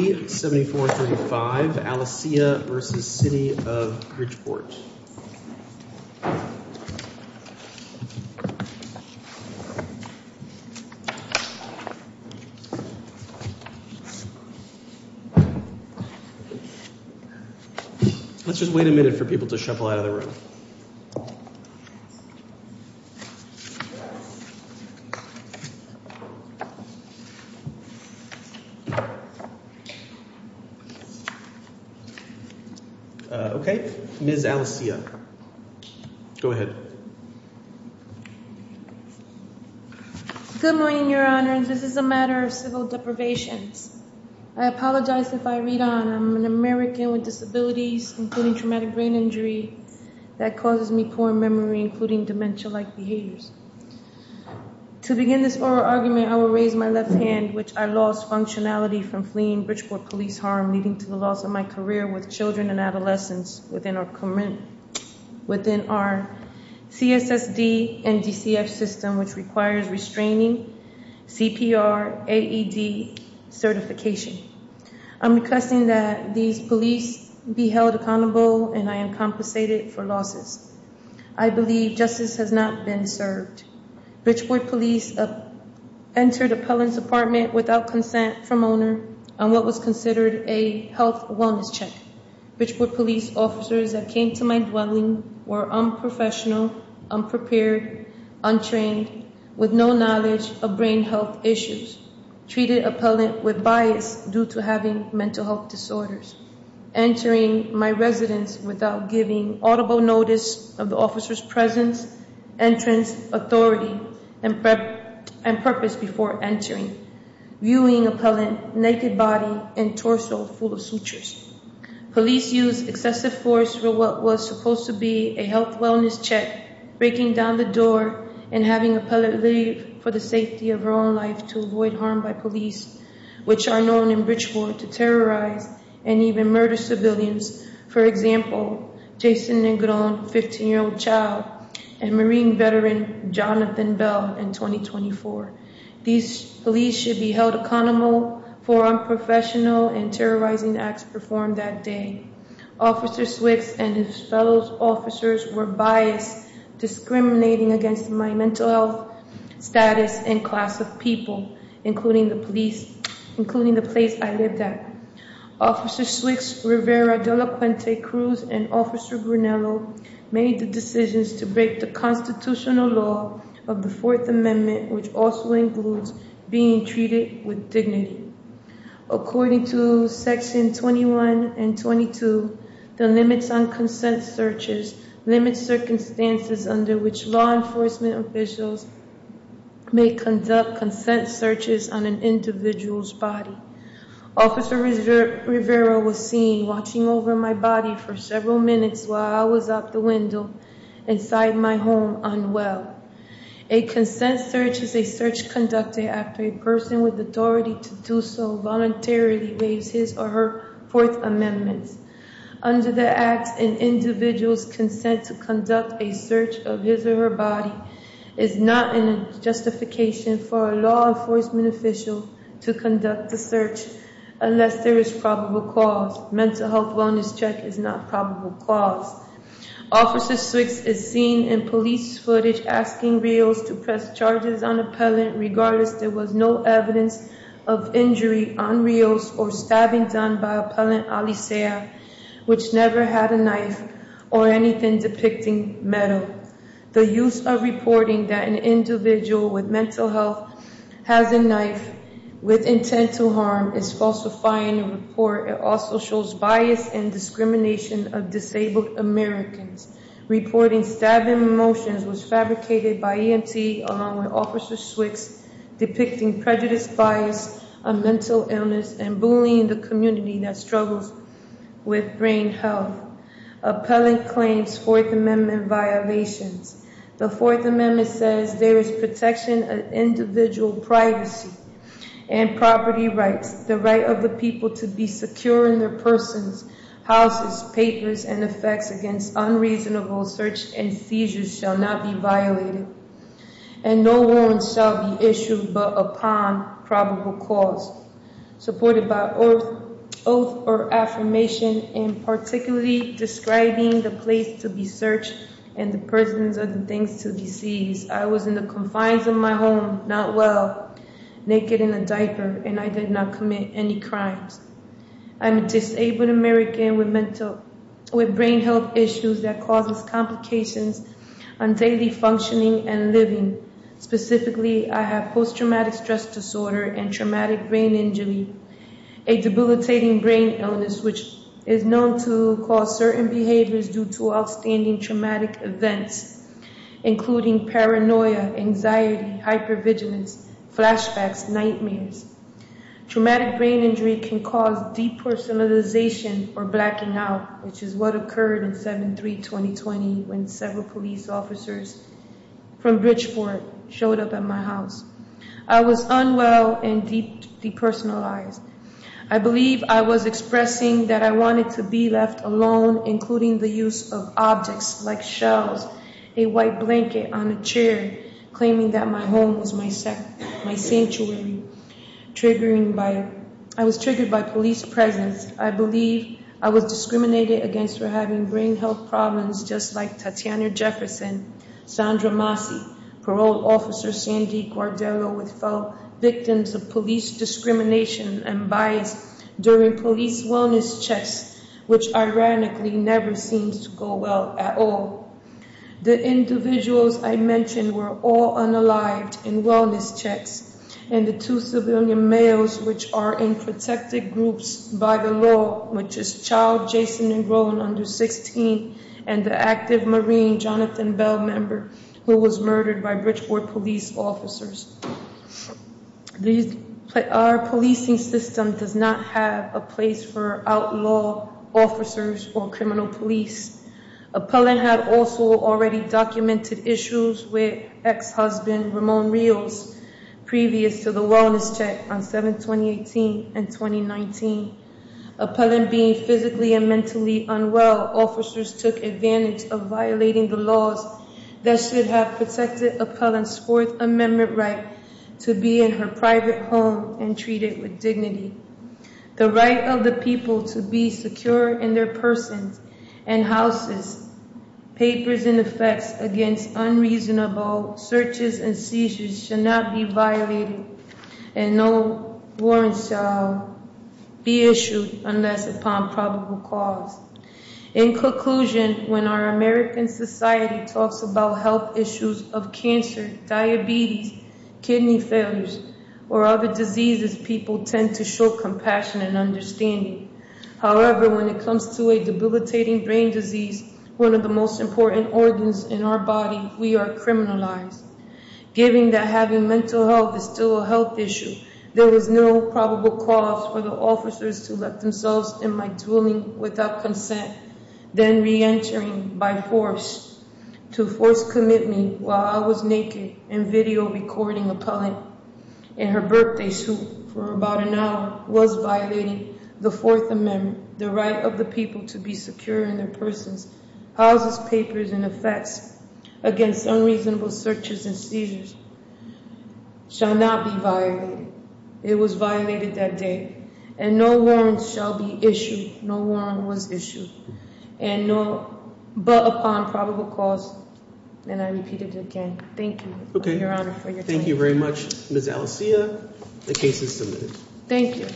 Let's just wait a minute for people to shuffle out of the room. Okay, Ms. Alicia. Go ahead. Good morning, Your Honors. This is a matter of civil deprivations. I apologize if I read on. I'm an American with disabilities, including traumatic brain injury, that causes me poor memory, including dementia-like behaviors. To begin this oral argument, I will raise my left hand, which I lost functionality from fleeing Bridgeport police harm, leading to the loss of my career with children and adolescents within our CSSD and DCF system, which requires restraining CPR, AED certification. I'm requesting that these police be held accountable, and I am compensated for losses. I believe justice has not been served. Bridgeport police entered appellant's apartment without consent from owner on what was considered a health wellness check. Bridgeport police officers that came to my dwelling were unprofessional, unprepared, untrained, with no knowledge of brain health issues, treated appellant with bias due to having mental health disorders. Entering my residence without giving audible notice of the officer's presence, entrance, authority, and purpose before entering, viewing appellant naked body and torso full of sutures. Police used excessive force for what was supposed to be a health wellness check, breaking down the door and having appellant leave for the safety of her own life to avoid harm by police, which are known in Bridgeport to terrorize and even murder civilians. For example, Jason Negron, 15-year-old child, and Marine veteran Jonathan Bell in 2024. These police should be held accountable for unprofessional and terrorizing acts performed that day. Officer Swicks and his fellow officers were biased, discriminating against my mental health status and class of people, including the police, including the place I lived at. Officer Swicks, Rivera, Delacuente, Cruz, and Officer Brunello made the decisions to break the constitutional law of the Fourth Amendment, which also includes being treated with dignity. According to Section 21 and 22, the limits on consent searches limit circumstances under which law enforcement officials may conduct consent searches on an individual's body. Officer Rivera was seen watching over my body for several minutes while I was out the window inside my home unwell. A consent search is a search conducted after a person with authority to do so voluntarily waives his or her Fourth Amendment. Under the acts, an individual's consent to conduct a search of his or her body is not a justification for a law enforcement official to conduct the search unless there is probable cause. Mental health wellness check is not probable cause. Officer Swicks is seen in police footage asking Rios to press charges on appellant regardless there was no evidence of injury on Rios or stabbing done by Appellant Alisea, which never had a knife or anything depicting metal. The use of reporting that an individual with mental health has a knife with intent to harm is falsifying the report. It also shows bias and discrimination of disabled Americans. Reporting stabbing motions was fabricated by EMT along with Officer Swicks depicting prejudiced bias on mental illness and bullying the community that struggles with brain health. Appellant claims Fourth Amendment violations. The Fourth Amendment says there is protection of individual privacy and property rights. The right of the people to be secure in their persons, houses, papers, and effects against unreasonable search and seizures shall not be violated. And no warrant shall be issued but upon probable cause. Supported by oath or affirmation and particularly describing the place to be searched and the persons and things to be seized. I was in the confines of my home, not well, naked in a diaper, and I did not commit any crimes. I'm a disabled American with brain health issues that causes complications on daily functioning and living. Specifically, I have post-traumatic stress disorder and traumatic brain injury. A debilitating brain illness which is known to cause certain behaviors due to outstanding traumatic events, including paranoia, anxiety, hypervigilance, flashbacks, nightmares. Traumatic brain injury can cause depersonalization or blacking out, which is what occurred in 7-3-2020 when several police officers from Bridgeport showed up at my house. I was unwell and depersonalized. I believe I was expressing that I wanted to be left alone, including the use of objects like shells, a white blanket on a chair, claiming that my home was my sanctuary. I was triggered by police presence. I believe I was discriminated against for having brain health problems, just like Tatiana Jefferson, Sandra Massey, Parole Officer Sandy Guardiola, with fellow victims of police discrimination and bias during police wellness checks, which ironically never seems to go well at all. The individuals I mentioned were all unalive in wellness checks, and the two civilian males, which are in protected groups by the law, which is child Jason and grown under 16, and the active Marine Jonathan Bell member who was murdered by Bridgeport police officers. Our policing system does not have a place for outlaw officers or criminal police. Appellant had also already documented issues with ex-husband Ramon Rios, previous to the wellness check on 7-2018 and 2019. Appellant being physically and mentally unwell, officers took advantage of violating the laws that should have protected Appellant's Fourth Amendment right to be in her private home and treated with dignity. The right of the people to be secure in their persons and houses, papers and effects against unreasonable searches and seizures should not be violated and no warrants shall be issued unless upon probable cause. In conclusion, when our American society talks about health issues of cancer, diabetes, kidney failures, or other diseases, people tend to show compassion and understanding. However, when it comes to a debilitating brain disease, one of the most important organs in our body, we are criminalized. Given that having mental health is still a health issue, there is no probable cause for the officers to let themselves in my dwelling without consent, then re-entering by force to force commit me while I was naked in video recording Appellant in her birthday suit for about an hour was violating the Fourth Amendment. The right of the people to be secure in their persons, houses, papers, and effects against unreasonable searches and seizures shall not be violated. It was violated that day, and no warrants shall be issued. No warrant was issued, but upon probable cause, and I repeat it again. Thank you, Your Honor, for your time. Thank you very much, Ms. Alessia. The case is submitted. Thank you.